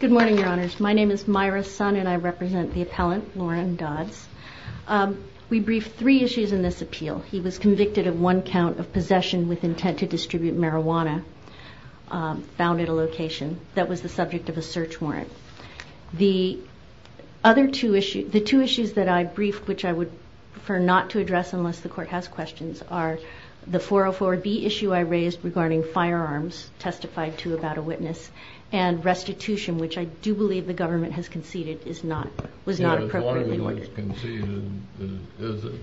Good morning, your honors. My name is Myra Sun and I represent the appellant, Loren Dodds. We briefed three issues in this appeal. He was convicted of one count of possession with intent to distribute marijuana found at a location that was the subject of a search warrant. The other two issues, the two issues that I briefed, which I would prefer not to do, I raised regarding firearms, testified to about a witness, and restitution, which I do believe the government has conceded is not, was not appropriately ordered. As long as it's conceded, is it?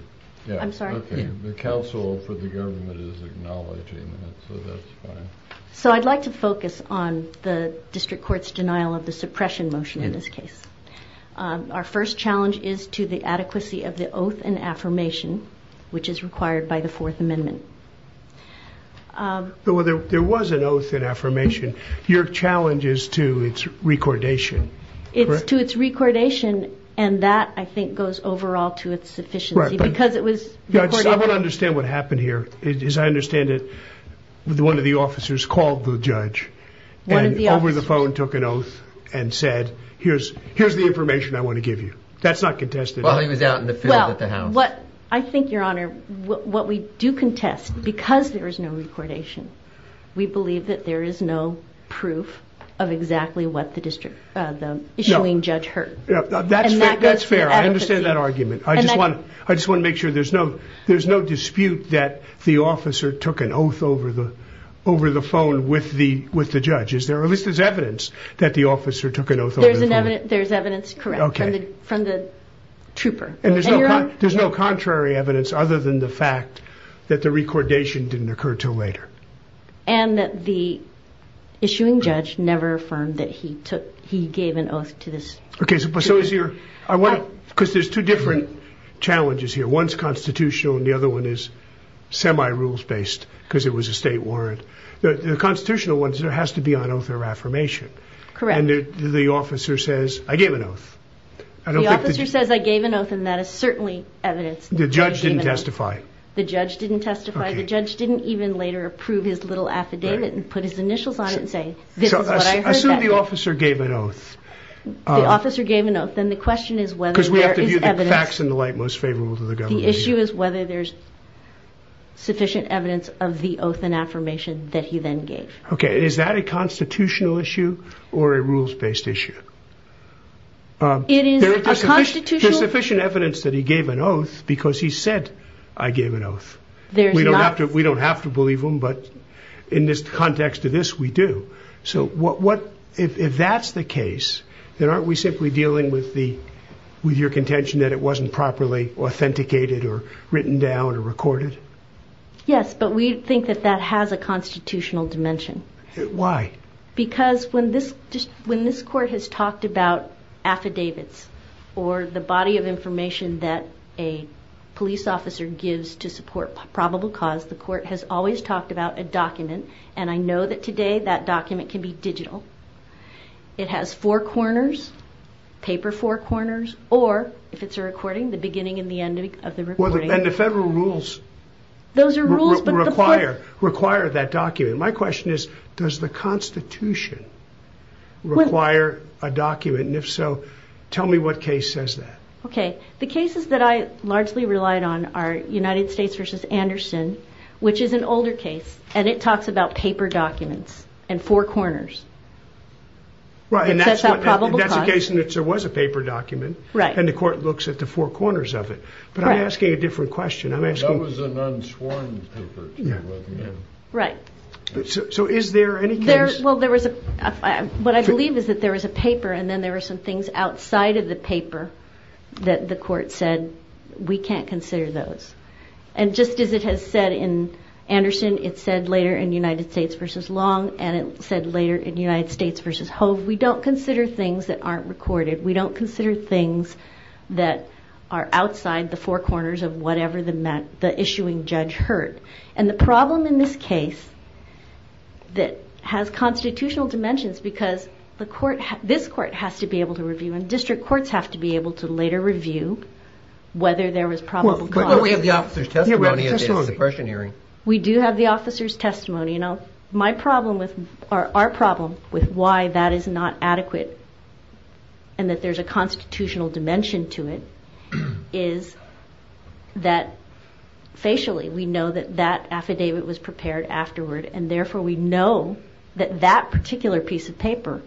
I'm sorry? The counsel for the government is acknowledging it, so that's fine. So I'd like to focus on the district court's denial of the suppression motion in this case. Our first challenge is to the adequacy of the oath and affirmation, which is required by the Fourth Amendment. There was an oath and affirmation. Your challenge is to its recordation, correct? To its recordation, and that, I think, goes overall to its sufficiency, because it was recorded. I don't understand what happened here. As I understand it, one of the officers called the judge. One of the officers. And over the phone took an oath and said, here's the information I want to give you. That's not contested. Well, he was out in the field at the house. I think, Your Honor, what we do contest, because there is no recordation, we believe that there is no proof of exactly what the issuing judge heard. That's fair. I understand that argument. I just want to make sure there's no dispute that the officer took an oath over the phone with the judge. At least there's evidence that the officer took an oath over the phone. There's evidence, correct, from the trooper. And there's no contrary evidence other than the fact that the recordation didn't occur until later. And that the issuing judge never affirmed that he gave an oath to this. Okay, so is your, because there's two different challenges here. One's constitutional and the other one is semi-rules based, because it was a state warrant. The constitutional one has to be on oath or affirmation. Correct. And the officer says, I gave an oath. The officer says, I gave an oath, and that is certainly evidence that I gave an oath. The judge didn't testify. The judge didn't testify. The judge didn't even later approve his little affidavit and put his initials on it and say, this is what I heard that day. So, assume the officer gave an oath. If the officer gave an oath, then the question is whether there is evidence. Because we have to view the facts in the light most favorable to the government. The issue is whether there's sufficient evidence of the oath and affirmation that he then gave. Okay, is that a constitutional issue or a rules-based issue? It is a constitutional issue. There's sufficient evidence that he gave an oath because he said, I gave an oath. We don't have to believe him, but in this context of this, we do. So, what, if that's the case, then aren't we simply dealing with the, with your contention that it wasn't properly authenticated or written down or recorded? Yes, but we think that that has a constitutional dimension. Why? Because when this, when this court has talked about affidavits or the body of information that a police officer gives to support probable cause, the court has always talked about a document. And I know that today that document can be digital. It has four corners, paper four corners, or if it's a recording, the beginning and the end of the recording. And the federal rules require that document. My question is, does the constitution require a document? And if so, tell me what case says that. Okay. The cases that I largely relied on are United States versus Anderson, which is an older case. And it talks about paper documents and four corners. Right. And that's a case in which there was a paper document and the court looks at the four corners of it. But I'm asking a different question. I'm asking... That was an unsworn paper, to let me in. Right. So is there any case... Well, there was a... What I believe is that there was a paper and then there were some things outside of the paper that the court said, we can't consider those. And just as it has said in Anderson, it said later in United States versus Long, and it said later in United States versus Hove, we don't consider things that aren't recorded. We don't consider things that are outside the four corners of whatever the issuing judge heard. And the problem in this case that has constitutional dimensions, because this court has to be able to review and district courts have to be able to later review whether there was probable cause. We have the officer's testimony. We do have the officer's testimony. Our problem with why that is not adequate and that there's a constitutional dimension to it is that facially, we know that that affidavit was prepared afterward. And therefore, we know that that particular piece of paper,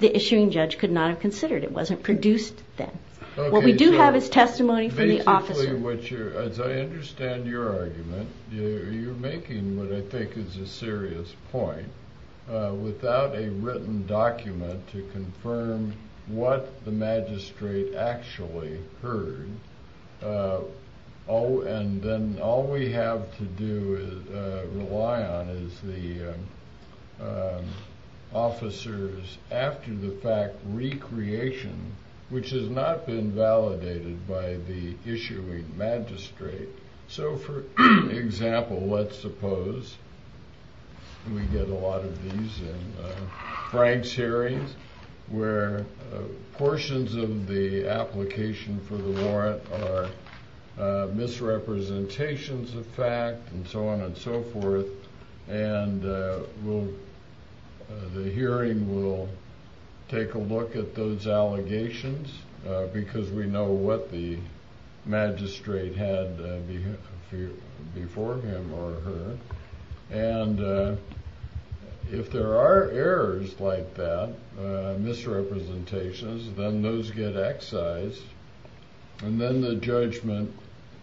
the issuing judge could not have considered. It wasn't produced then. What we do have is testimony from the officer. As I understand your argument, you're making what I think is a serious point. Without a written document to confirm what the magistrate actually heard, and then all we have to rely on is the officer's, after the fact, recreation, which has not been validated by the issuing magistrate. So, for example, let's suppose we get a lot of these in Frank's hearings where portions of the application for the warrant are misrepresentations of fact and so on and so forth, and the hearing will take a look at those allegations because we know what the magistrate had before him or her, and if there are errors like that, misrepresentations, then those get excised and then the judgment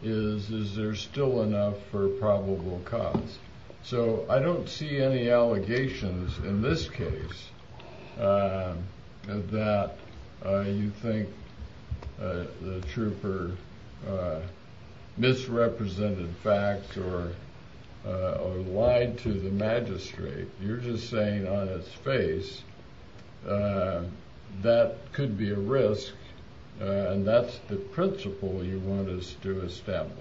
is, is there still enough for probable cause? So, I don't see any allegations in this case that you think the trooper misrepresented facts or lied to the magistrate. You're just saying on its face that could be a risk and that's the principle you want us to establish.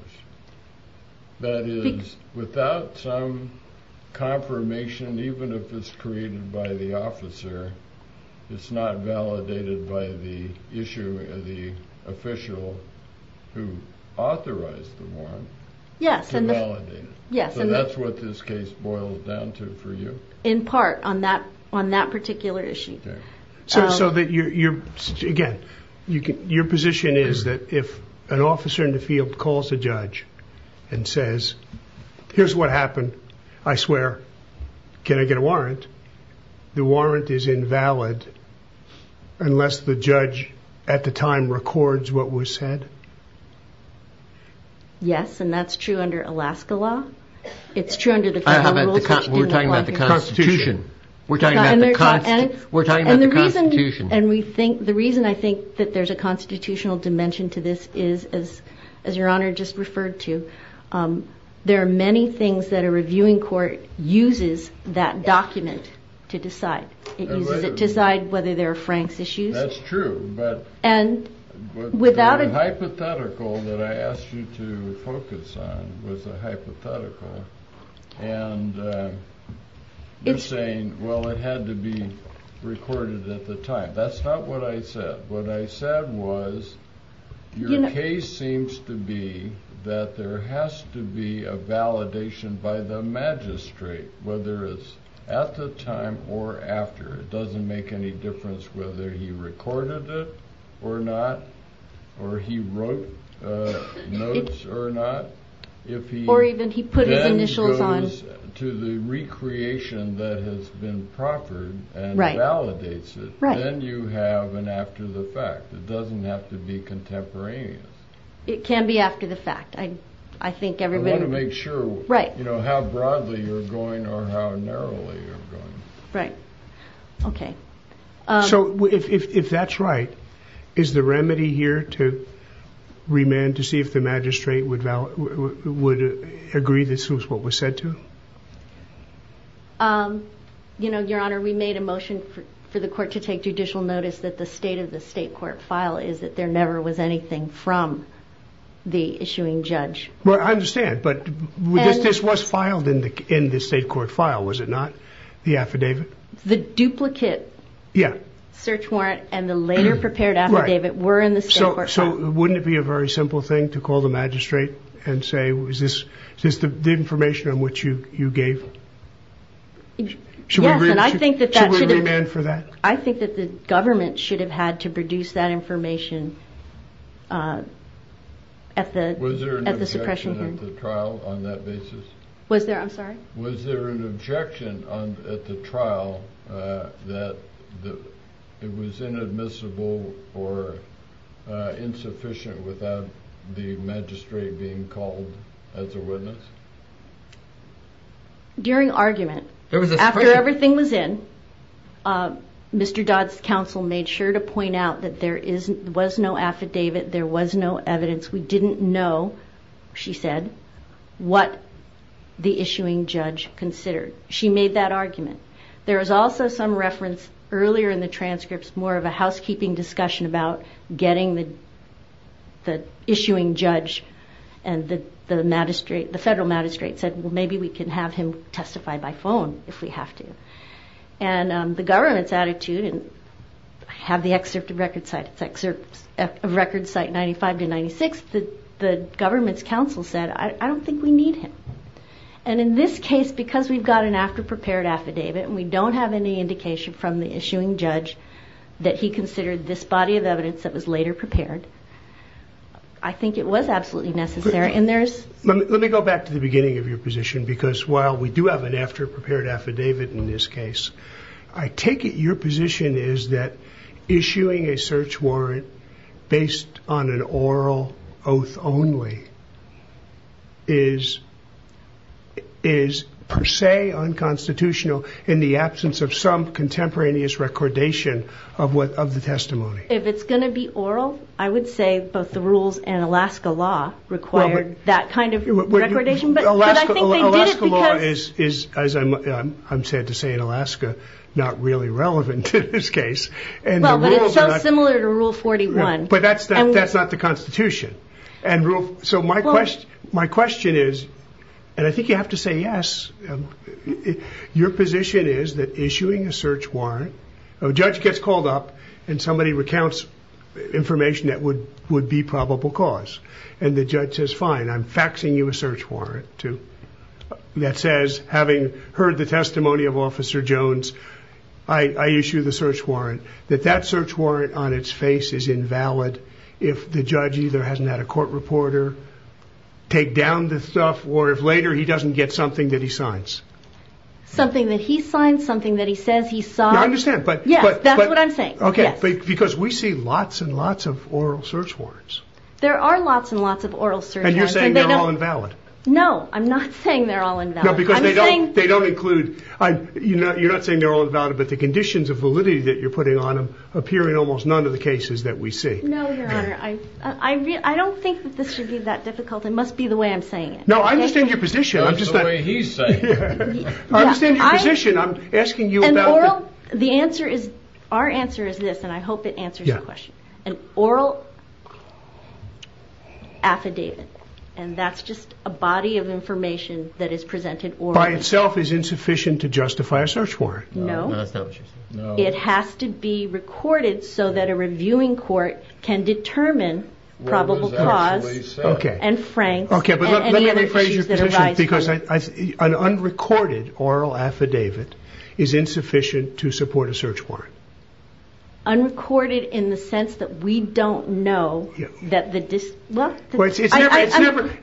That is, without some confirmation, even if it's created by the officer, it's not validated by the issue of the official who authorized the warrant to validate it. So that's what this case boils down to for you? In part, on that particular issue. So that you're, again, your position is that if an officer in the field calls a judge and says, here's what happened, I swear, can I get a warrant, the warrant is invalid unless the judge at the time records what was said? Yes, and that's true under Alaska law. It's true under the Federal Constitution. Constitution. We're talking about the Constitution. And the reason I think that there's a constitutional dimension to this is, as Your Honor just referred to, there are many things that a reviewing court uses that document to decide. It uses it to decide whether there are Franks issues. That's true, but the hypothetical that I asked you to focus on was a hypothetical. And you're saying, well, it had to be recorded at the time. That's not what I said. What I said was, your case seems to be that there has to be a validation by the magistrate, whether it's at the time or after. It doesn't make any difference whether he recorded it or not, or he wrote notes or not. Or even he put his initials on. If he then goes to the recreation that has been proffered and validates it, then you have an after-the-fact. It doesn't have to be contemporaneous. It can be after-the-fact. I want to make sure how broadly you're going or how narrowly you're going. If that's right, is the remedy here to remand to see if the magistrate would agree this was what was said to? Your Honor, we made a motion for the court to take judicial notice that the state of the state court file is that there never was anything from the issuing judge. I understand, but this was filed in the state court file, was it not? The affidavit? The duplicate search warrant and the later prepared affidavit were in the state court file. So wouldn't it be a very simple thing to call the magistrate and say, is this the information on which you gave? Should we remand for that? I think that the government should have had to produce that information at the suppression hearing. Was there an objection at the trial on that basis? I'm sorry? Was there an objection at the trial that it was inadmissible or insufficient without the magistrate being called as a witness? During argument, after everything was in, Mr. Dodd's counsel made sure to point out that there was no affidavit, there was no evidence. We didn't know, she said, what the issuing judge considered. She made that argument. There was also some reference earlier in the transcripts, more of a housekeeping discussion about getting the issuing judge and the federal magistrate said, well, maybe we can have him testify by phone if we have to. And the government's attitude, and I have the excerpt of record site, 95 to 96, the government's counsel said, I don't think we need him. And in this case, because we've got an after-prepared affidavit and we don't have any indication from the issuing judge that he considered this body of evidence that was later prepared, I think it was absolutely necessary. Let me go back to the beginning of your position, because while we do have an after-prepared affidavit in this case, I take it your position is that issuing a search warrant based on an oral oath only is per se unconstitutional in the absence of some contemporaneous recordation of the testimony. If it's going to be oral, I would say both the rules and Alaska law required that kind of recordation. Alaska law is, as I'm sad to say in Alaska, not really relevant in this case. But it's so similar to Rule 41. But that's not the Constitution. So my question is, and I think you have to say yes, your position is that issuing a search warrant, a judge gets called up and somebody recounts information that would be probable cause. And the judge says, fine, I'm faxing you a search warrant that says, having heard the testimony of Officer Jones, I issue the search warrant, that that search warrant on its face is invalid if the judge either hasn't had a court reporter take down the stuff or if later he doesn't get something that he signs. Something that he signs, something that he says he signs. I understand. Yes, that's what I'm saying. Because we see lots and lots of oral search warrants. There are lots and lots of oral search warrants. And you're saying they're all invalid. No, I'm not saying they're all invalid. No, because they don't include, you're not saying they're all invalid, but the conditions of validity that you're putting on them appear in almost none of the cases that we see. No, Your Honor. I don't think that this should be that difficult. It must be the way I'm saying it. No, I understand your position. That's the way he's saying it. I understand your position. I'm asking you about the – And oral, the answer is, our answer is this, and I hope it answers your question. An oral affidavit, and that's just a body of information that is presented orally. By itself is insufficient to justify a search warrant. No. No, that's not what you're saying. No. It has to be recorded so that a reviewing court can determine probable cause and franks and any other issues that arise. Okay, but let me rephrase your position, because an unrecorded oral affidavit is insufficient to support a search warrant. Unrecorded in the sense that we don't know that the – Well, it's never –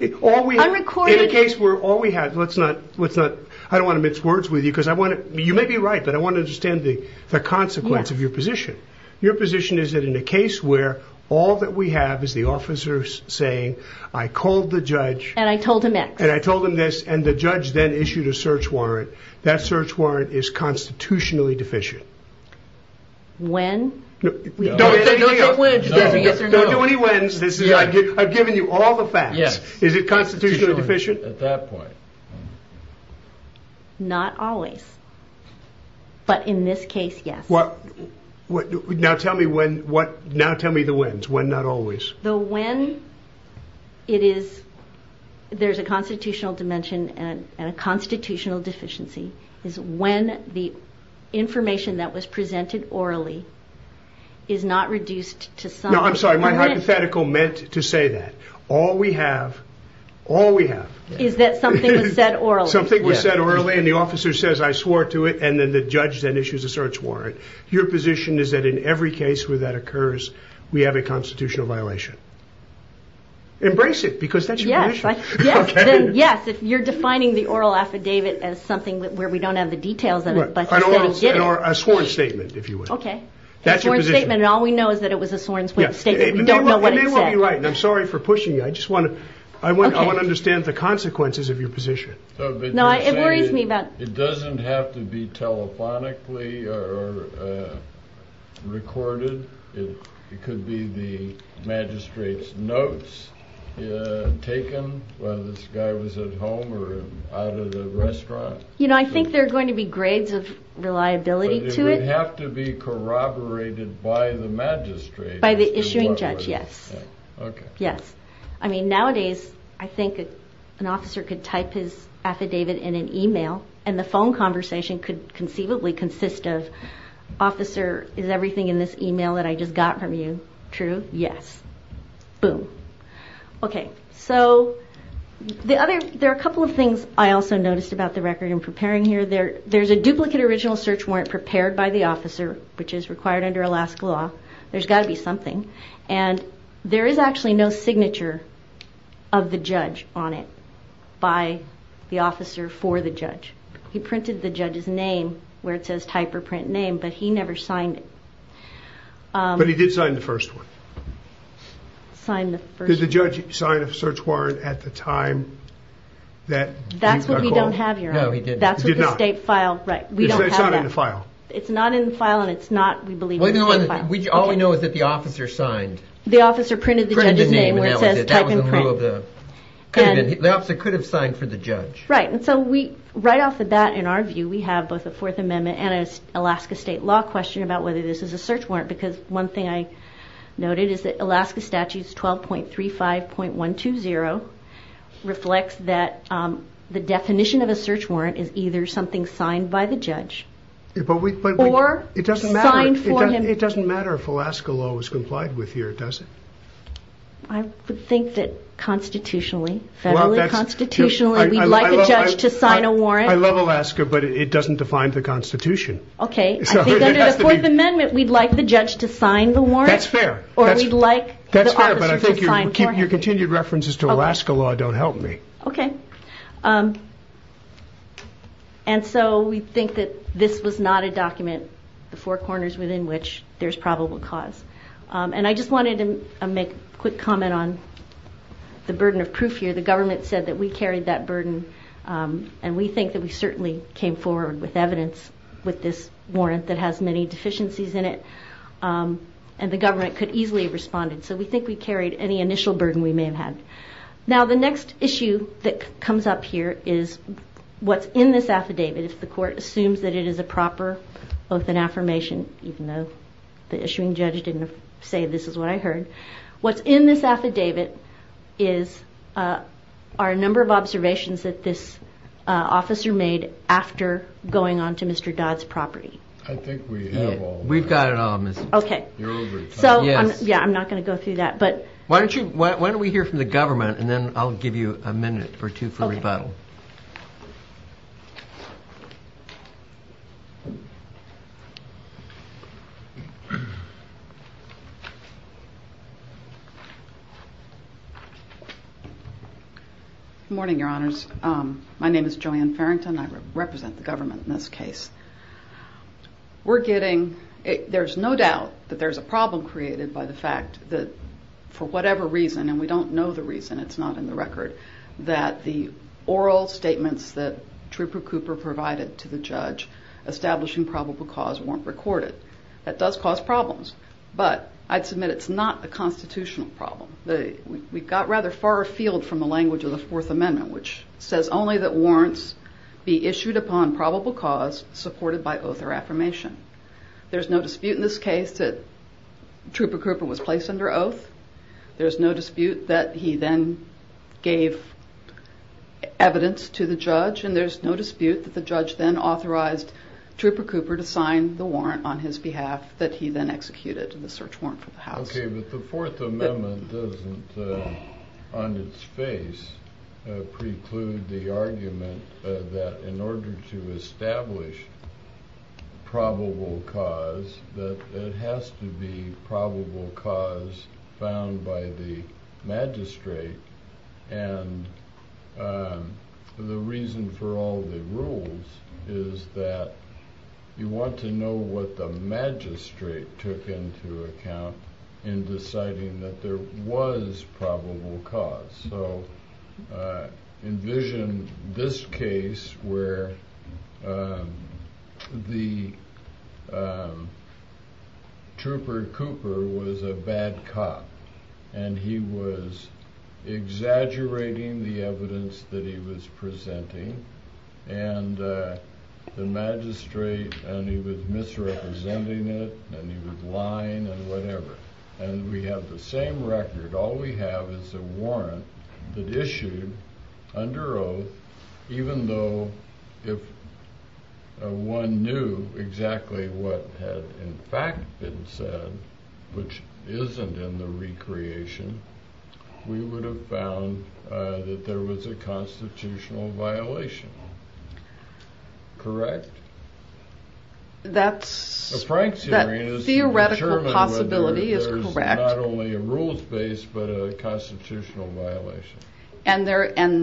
Unrecorded – In a case where all we have – let's not – I don't want to mix words with you because I want to – you may be right, but I want to understand the consequence of your position. Your position is that in a case where all that we have is the officer saying, I called the judge – And I told him X. And I told him this, and the judge then issued a search warrant. That search warrant is constitutionally deficient. When? Don't say anything else. No. Don't do any whens. I've given you all the facts. Yes. Is it constitutionally deficient? At that point. Not always. But in this case, yes. Now tell me when – now tell me the whens. When, not always. The when it is – there's a constitutional dimension and a constitutional deficiency is when the information that was presented orally is not reduced to some – No, I'm sorry. My hypothetical meant to say that. All we have – all we have – Is that something was said orally. Something was said orally, and the officer says, I swore to it, and then the judge then issues a search warrant. Your position is that in every case where that occurs, we have a constitutional violation. Embrace it, because that's your position. Yes. Okay. Yes. Yes. You're defining the oral affidavit as something where we don't have the details of it, but he said he did it. Or a sworn statement, if you will. Okay. That's your position. A sworn statement, and all we know is that it was a sworn statement. We don't know what it said. You may well be right, and I'm sorry for pushing you. I just want to – Okay. I want to understand the consequences of your position. No, it worries me about – It doesn't have to be telephonically or recorded. It could be the magistrate's notes taken while this guy was at home or out at a restaurant. You know, I think there are going to be grades of reliability to it. But it would have to be corroborated by the magistrate. By the issuing judge, yes. Okay. Yes. I mean, nowadays, I think an officer could type his affidavit in an e-mail, and the phone conversation could conceivably consist of, Officer, is everything in this e-mail that I just got from you true? Yes. Boom. Okay. So there are a couple of things I also noticed about the record I'm preparing here. There's a duplicate original search warrant prepared by the officer, which is required under Alaska law. There's got to be something. And there is actually no signature of the judge on it by the officer for the judge. He printed the judge's name where it says type or print name, but he never signed it. But he did sign the first one. Signed the first one. Did the judge sign a search warrant at the time that he got called? That's what we don't have here. No, he did not. That's what the state file – right. We don't have that. It's not in the file. It's not in the file, and it's not, we believe, in the state file. All we know is that the officer signed. The officer printed the judge's name where it says type and print. The officer could have signed for the judge. Right. And so right off the bat, in our view, we have both a Fourth Amendment and an Alaska state law question about whether this is a search warrant, because one thing I noted is that Alaska Statute 12.35.120 reflects that the definition of a search warrant is either something signed by the judge or signed for him. It doesn't matter if Alaska law was complied with here, does it? I would think that constitutionally, federally, constitutionally, we'd like a judge to sign a warrant. I love Alaska, but it doesn't define the Constitution. Okay. I think under the Fourth Amendment, we'd like the judge to sign the warrant. Or we'd like the officer to sign for him. That's fair, but I think your continued references to Alaska law don't help me. Okay. And so we think that this was not a document, the four corners within which there's probable cause. And I just wanted to make a quick comment on the burden of proof here. The government said that we carried that burden, and we think that we certainly came forward with evidence with this warrant that has many deficiencies in it, and the government could easily have responded. So we think we carried any initial burden we may have had. Now, the next issue that comes up here is what's in this affidavit. If the court assumes that it is a proper oath and affirmation, even though the issuing judge didn't say this is what I heard, what's in this affidavit are a number of observations that this officer made after going onto Mr. Dodd's property. I think we have all of that. We've got it all, Ms. Okay. You're over it. Yeah, I'm not going to go through that. Why don't we hear from the government, and then I'll give you a minute or two for rebuttal. Good morning, Your Honors. My name is Joanne Farrington. I represent the government in this case. There's no doubt that there's a problem created by the fact that for whatever reason, and we don't know the reason, it's not in the record, that the oral statements that Trooper Cooper provided to the judge establishing probable cause weren't recorded. That does cause problems, but I'd submit it's not the constitutional problem. We've got rather far afield from the language of the Fourth Amendment, which says only that warrants be issued upon probable cause supported by oath or affirmation. There's no dispute in this case that Trooper Cooper was placed under oath. There's no dispute that he then gave evidence to the judge, and there's no dispute that the judge then authorized Trooper Cooper to sign the warrant on his behalf that he then executed the search warrant for the house. Okay, but the Fourth Amendment doesn't, on its face, preclude the argument that in order to establish probable cause, that it has to be probable cause found by the magistrate, and the reason for all the rules is that you want to know what the magistrate took into account in deciding that there was probable cause. So envision this case where the Trooper Cooper was a bad cop, and he was exaggerating the evidence that he was presenting, and the magistrate, and he was misrepresenting it, and he was lying, and whatever. And we have the same record. All we have is a warrant that issued under oath, even though if one knew exactly what had in fact been said, which isn't in the recreation, we would have found that there was a constitutional violation. Correct? That theoretical possibility is correct. And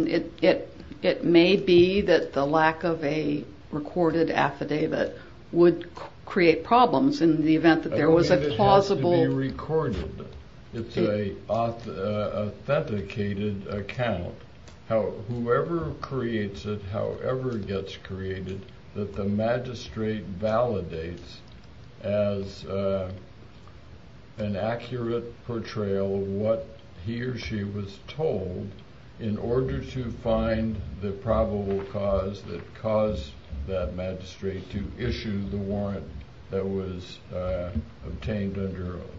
it may be that the lack of a recorded affidavit would create problems in the event that there was a plausible... that the magistrate validates as an accurate portrayal of what he or she was told in order to find the probable cause that caused that magistrate to issue the warrant that was obtained under oath.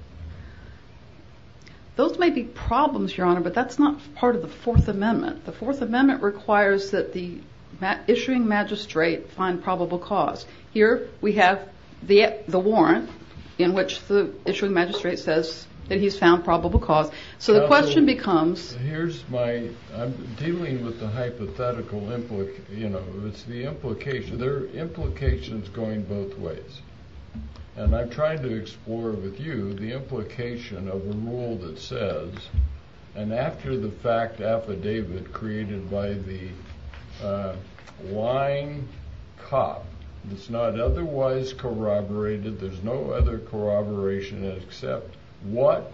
Those may be problems, Your Honor, but that's not part of the Fourth Amendment. The Fourth Amendment requires that the issuing magistrate find probable cause. Here we have the warrant in which the issuing magistrate says that he's found probable cause. So the question becomes... Here's my... I'm dealing with the hypothetical, you know, it's the implication. There are implications going both ways. And I'm trying to explore with you the implication of a rule that says, and after the fact affidavit created by the lying cop, it's not otherwise corroborated, there's no other corroboration except what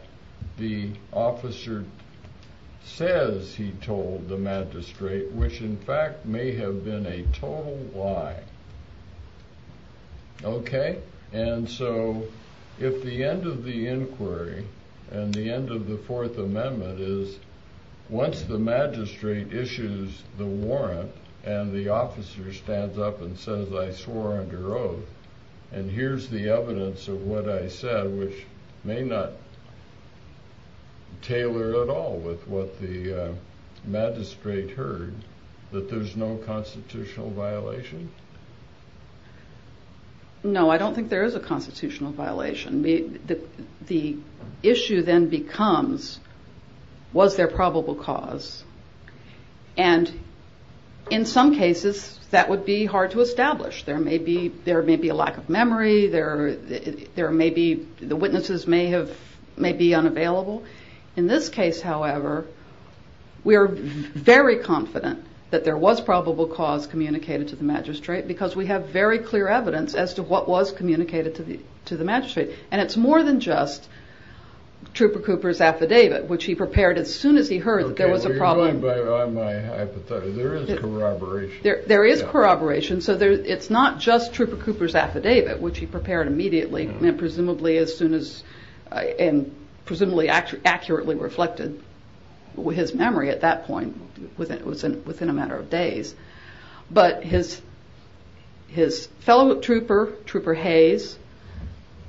the officer says he told the magistrate, which in fact may have been a total lie. Okay? And so if the end of the inquiry and the end of the Fourth Amendment is once the magistrate issues the warrant and the officer stands up and says, I swore under oath and here's the evidence of what I said, which may not tailor at all with what the magistrate heard, that there's no constitutional violation? No, I don't think there is a constitutional violation. The issue then becomes, was there probable cause? And in some cases that would be hard to establish. There may be a lack of memory, the witnesses may be unavailable. In this case, however, we are very confident that there was probable cause communicated to the magistrate because we have very clear evidence as to what was communicated to the magistrate. And it's more than just Trooper Cooper's affidavit, which he prepared as soon as he heard that there was a problem. Okay, well you're going by my hypothesis. There is corroboration. There is corroboration, so it's not just Trooper Cooper's affidavit, which he prepared immediately, and presumably accurately reflected his memory at that point within a matter of days. But his fellow trooper, Trooper Hayes,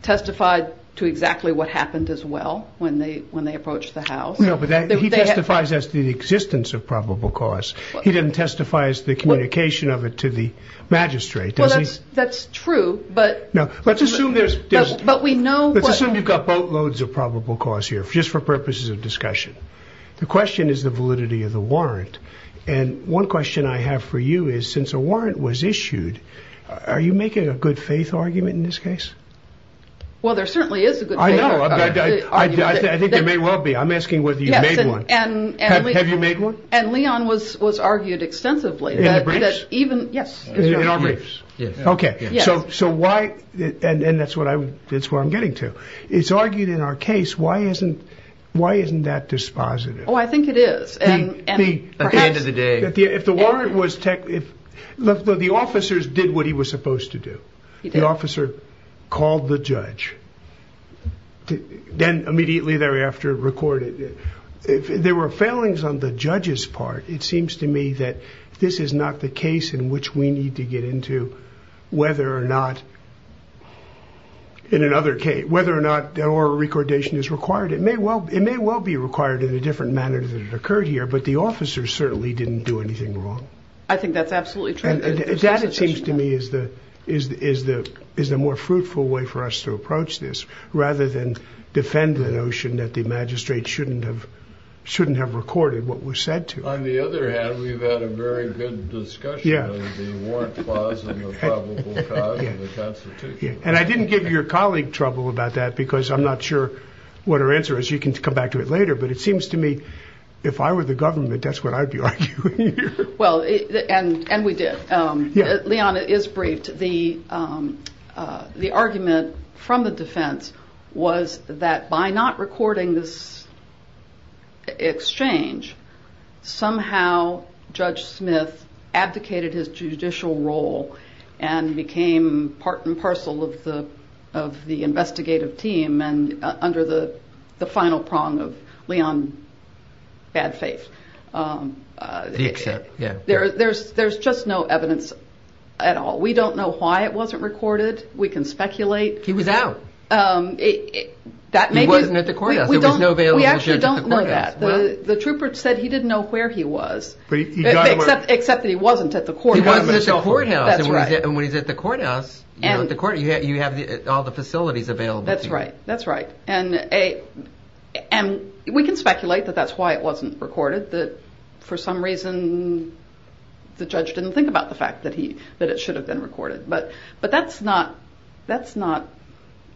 testified to exactly what happened as well when they approached the house. He testifies as to the existence of probable cause. He didn't testify as to the communication of it to the magistrate. Well, that's true, but we know. Let's assume you've got boatloads of probable cause here, just for purposes of discussion. The question is the validity of the warrant. And one question I have for you is, since a warrant was issued, are you making a good faith argument in this case? Well, there certainly is a good faith argument. I think there may well be. I'm asking whether you've made one. Have you made one? And Leon was argued extensively. In the briefs? Yes. In our briefs? Yes. Okay, so why, and that's where I'm getting to, it's argued in our case, why isn't that dispositive? Oh, I think it is. At the end of the day. Look, the officers did what he was supposed to do. He did. The officer called the judge. Then immediately thereafter recorded. There were failings on the judge's part. It seems to me that this is not the case in which we need to get into whether or not in another case, whether or not oral recordation is required. It may well be required in a different manner than it occurred here, but the officers certainly didn't do anything wrong. I think that's absolutely true. And that, it seems to me, is the more fruitful way for us to approach this, rather than defend the notion that the magistrate shouldn't have recorded what was said to him. On the other hand, we've had a very good discussion of the warrant clause and the probable cause of the Constitution. And I didn't give your colleague trouble about that because I'm not sure what her answer is. You can come back to it later. But it seems to me if I were the government, that's what I'd be arguing here. Well, and we did. Liana is briefed. The argument from the defense was that by not recording this exchange, somehow Judge Smith abdicated his judicial role and became part and parcel of the investigative team and under the final prong of Leon's bad faith. The except, yeah. There's just no evidence at all. We don't know why it wasn't recorded. We can speculate. He was out. He wasn't at the courthouse. We actually don't know that. The trooper said he didn't know where he was, except that he wasn't at the courthouse. He wasn't at the courthouse. And when he's at the courthouse, you have all the facilities available to you. That's right. And we can speculate that that's why it wasn't recorded, that for some reason the judge didn't think about the fact that it should have been recorded. But that's not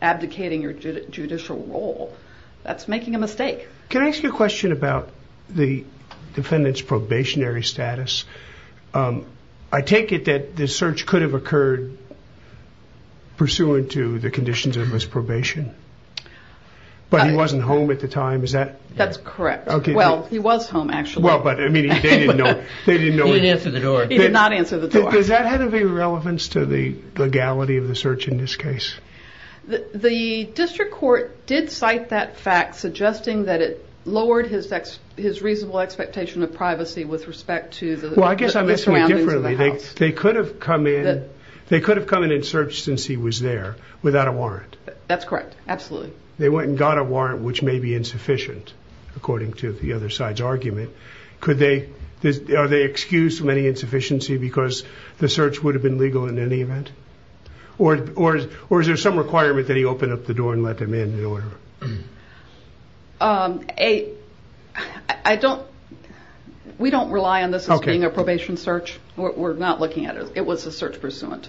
abdicating your judicial role. That's making a mistake. Can I ask you a question about the defendant's probationary status? I take it that the search could have occurred pursuant to the conditions of his probation, but he wasn't home at the time. That's correct. Well, he was home, actually. He didn't answer the door. He did not answer the door. Does that have any relevance to the legality of the search in this case? The district court did cite that fact, suggesting that it lowered his reasonable expectation of privacy with respect to the surroundings of the house. Well, I guess I'm asking you differently. They could have come in and searched since he was there without a warrant. That's correct, absolutely. They went and got a warrant, which may be insufficient, according to the other side's argument. Are they excused from any insufficiency because the search would have been legal in any event? Or is there some requirement that he open up the door and let them in in order? We don't rely on this as being a probation search. We're not looking at it. It was a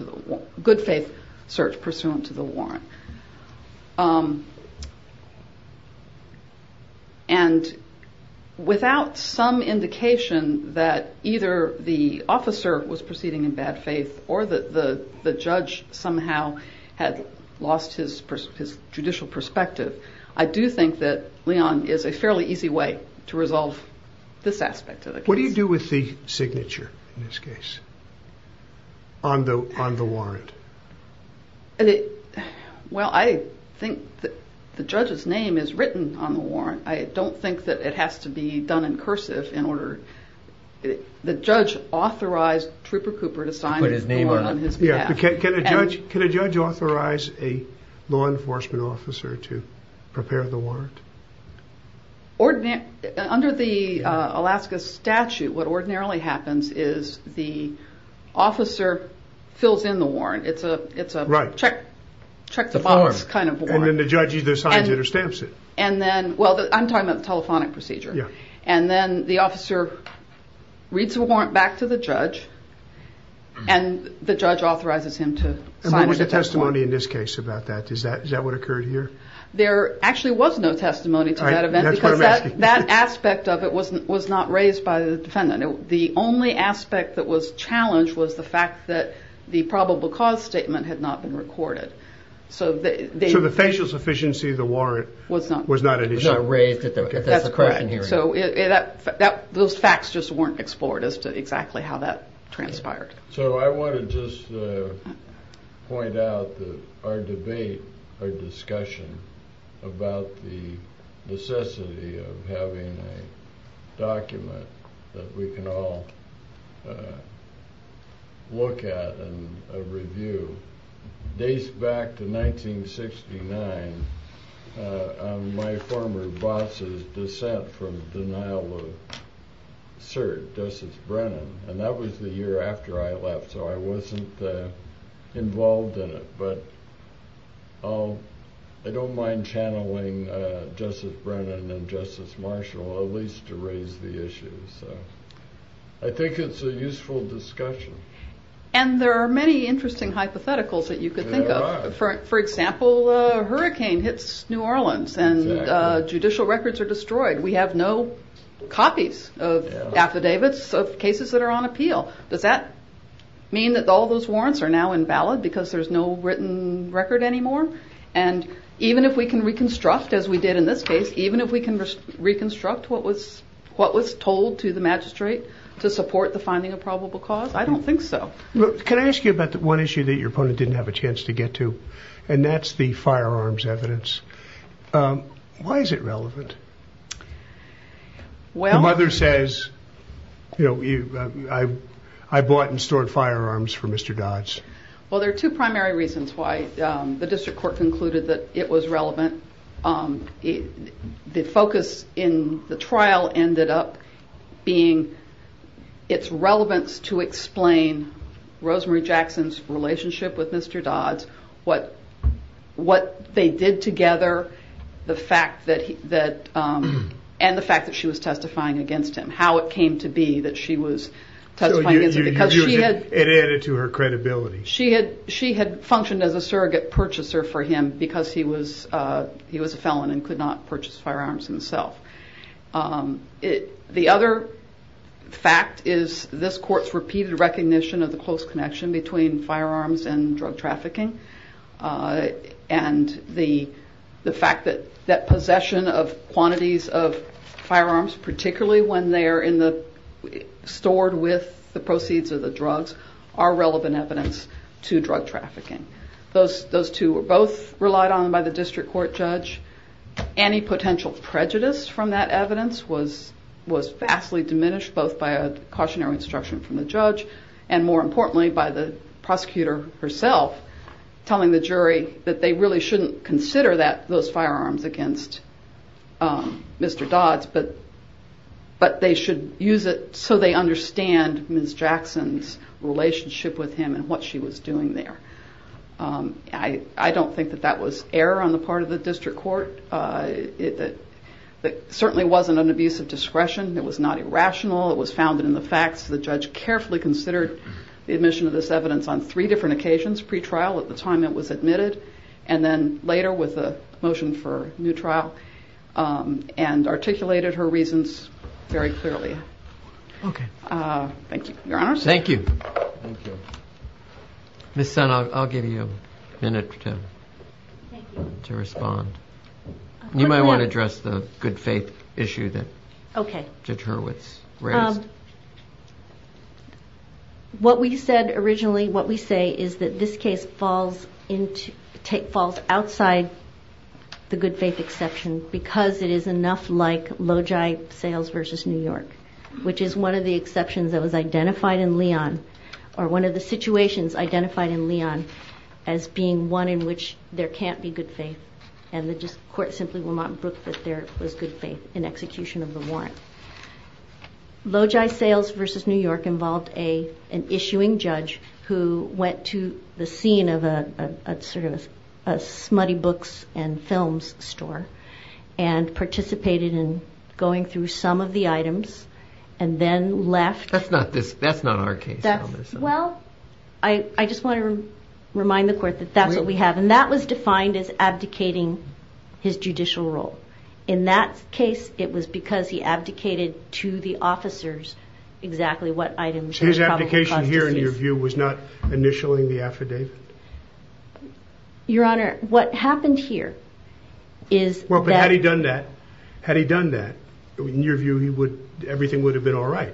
good faith search pursuant to the warrant. And without some indication that either the officer was proceeding in bad faith or that the judge somehow had lost his judicial perspective, I do think that Leon is a fairly easy way to resolve this aspect of the case. What do you do with the signature in this case on the warrant? Well, I think the judge's name is written on the warrant. I don't think that it has to be done in cursive. The judge authorized Trooper Cooper to sign the warrant on his behalf. Can a judge authorize a law enforcement officer to prepare the warrant? Under the Alaska statute, what ordinarily happens is the officer fills in the warrant. It's a check-the-box kind of warrant. And then the judge either signs it or stamps it. Well, I'm talking about the telephonic procedure. And then the officer reads the warrant back to the judge, and the judge authorizes him to sign the warrant. And what was the testimony in this case about that? Is that what occurred here? There actually was no testimony to that event because that aspect of it was not raised by the defendant. The only aspect that was challenged was the fact that the probable cause statement had not been recorded. So the facial sufficiency of the warrant was not an issue? Was not raised at the correction hearing. That's correct. So those facts just weren't explored as to exactly how that transpired. So I want to just point out that our debate, our discussion about the necessity of having a document that we can all look at and review. Days back to 1969, my former boss's dissent from the denial of cert, Justice Brennan, and that was the year after I left, so I wasn't involved in it. But I don't mind channeling Justice Brennan and Justice Marshall at least to raise the issue. So I think it's a useful discussion. And there are many interesting hypotheticals that you could think of. There are. For example, a hurricane hits New Orleans and judicial records are destroyed. We have no copies of affidavits of cases that are on appeal. Does that mean that all those warrants are now invalid because there's no written record anymore? And even if we can reconstruct, as we did in this case, even if we can reconstruct what was told to the magistrate to support the finding of probable cause? I don't think so. Can I ask you about one issue that your opponent didn't have a chance to get to? Why is it relevant? The mother says, I bought and stored firearms for Mr. Dodds. Well, there are two primary reasons why the district court concluded that it was relevant. The focus in the trial ended up being its relevance to explain Rosemary Jackson's relationship with Mr. Dodds, what they did together, and the fact that she was testifying against him. How it came to be that she was testifying against him. It added to her credibility. She had functioned as a surrogate purchaser for him because he was a felon and could not purchase firearms himself. The other fact is this court's repeated recognition of the close connection between firearms and drug trafficking, and the fact that possession of quantities of firearms, particularly when they are stored with the proceeds of the drugs, are relevant evidence to drug trafficking. Those two were both relied on by the district court judge. Any potential prejudice from that evidence was vastly diminished, both by a cautionary instruction from the judge, and more importantly by the prosecutor herself telling the jury that they really shouldn't consider those firearms against Mr. Dodds, but they should use it so they understand Ms. Jackson's relationship with him and what she was doing there. I don't think that that was error on the part of the district court. It certainly wasn't an abuse of discretion. It was not irrational. It was founded in the facts. The judge carefully considered the admission of this evidence on three different occasions, pre-trial, at the time it was admitted, and then later with a motion for new trial, and articulated her reasons very clearly. Thank you, Your Honors. Thank you. Thank you. Ms. Sun, I'll give you a minute to respond. You might want to address the good faith issue that Judge Hurwitz raised. What we said originally, what we say is that this case falls outside the good faith exception because it is enough like Logi Sales v. New York, which is one of the exceptions that was identified in Leon, or one of the situations identified in Leon as being one in which there can't be good faith, and the court simply will not book that there was good faith in execution of the warrant. Logi Sales v. New York involved an issuing judge who went to the scene of a smutty books and films store and participated in going through some of the items and then left. That's not our case. Well, I just want to remind the court that that's what we have. And that was defined as abdicating his judicial role. In that case, it was because he abdicated to the officers exactly what items and probable causes. So his abdication here, in your view, was not initialing the affidavit? Your Honor, what happened here is that— Well, but had he done that, in your view, everything would have been all right.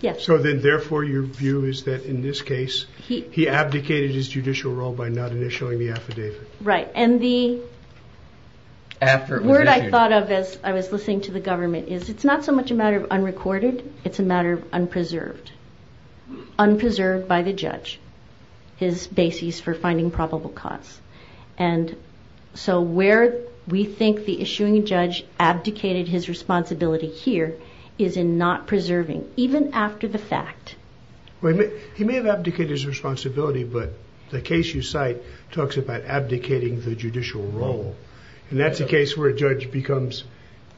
Yes. So then, therefore, your view is that, in this case, he abdicated his judicial role by not initialing the affidavit. Right. And the word I thought of as I was listening to the government is, it's not so much a matter of unrecorded, it's a matter of unpreserved. Unpreserved by the judge, his basis for finding probable cause. And so where we think the issuing judge abdicated his responsibility here is in not preserving, even after the fact. He may have abdicated his responsibility, but the case you cite talks about abdicating the judicial role. And that's a case where a judge becomes—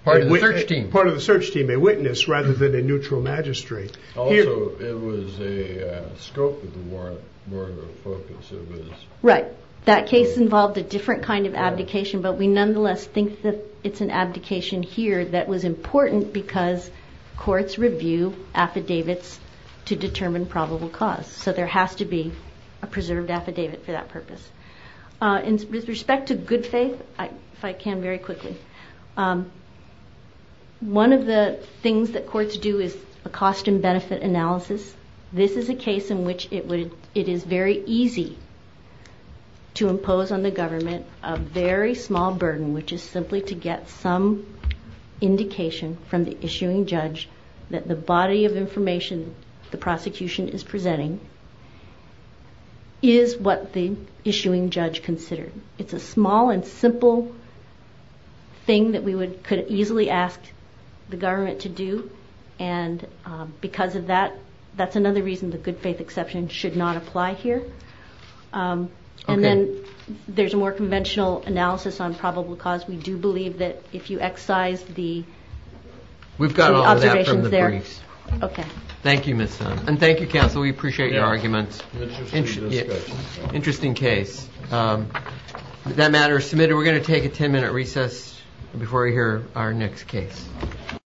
Part of the search team. Part of the search team, a witness, rather than a neutral magistrate. Also, it was a scope of the warrant, more of a focus of his— Right. That case involved a different kind of abdication, but we nonetheless think that it's an abdication here that was important because courts review affidavits to determine probable cause. So there has to be a preserved affidavit for that purpose. And with respect to good faith, if I can very quickly, one of the things that courts do is a cost and benefit analysis. This is a case in which it is very easy to impose on the government a very small burden, which is simply to get some indication from the issuing judge that the body of information the prosecution is presenting is what the issuing judge considered. It's a small and simple thing that we could easily ask the government to do. And because of that, that's another reason the good faith exception should not apply here. And then there's a more conventional analysis on probable cause. We do believe that if you excise the— We've got all that from the briefs. Okay. Thank you, Ms. Sun. And thank you, counsel. We appreciate your arguments. Interesting case. Interesting case. That matter is submitted. We're going to take a 10-minute recess before we hear our next case.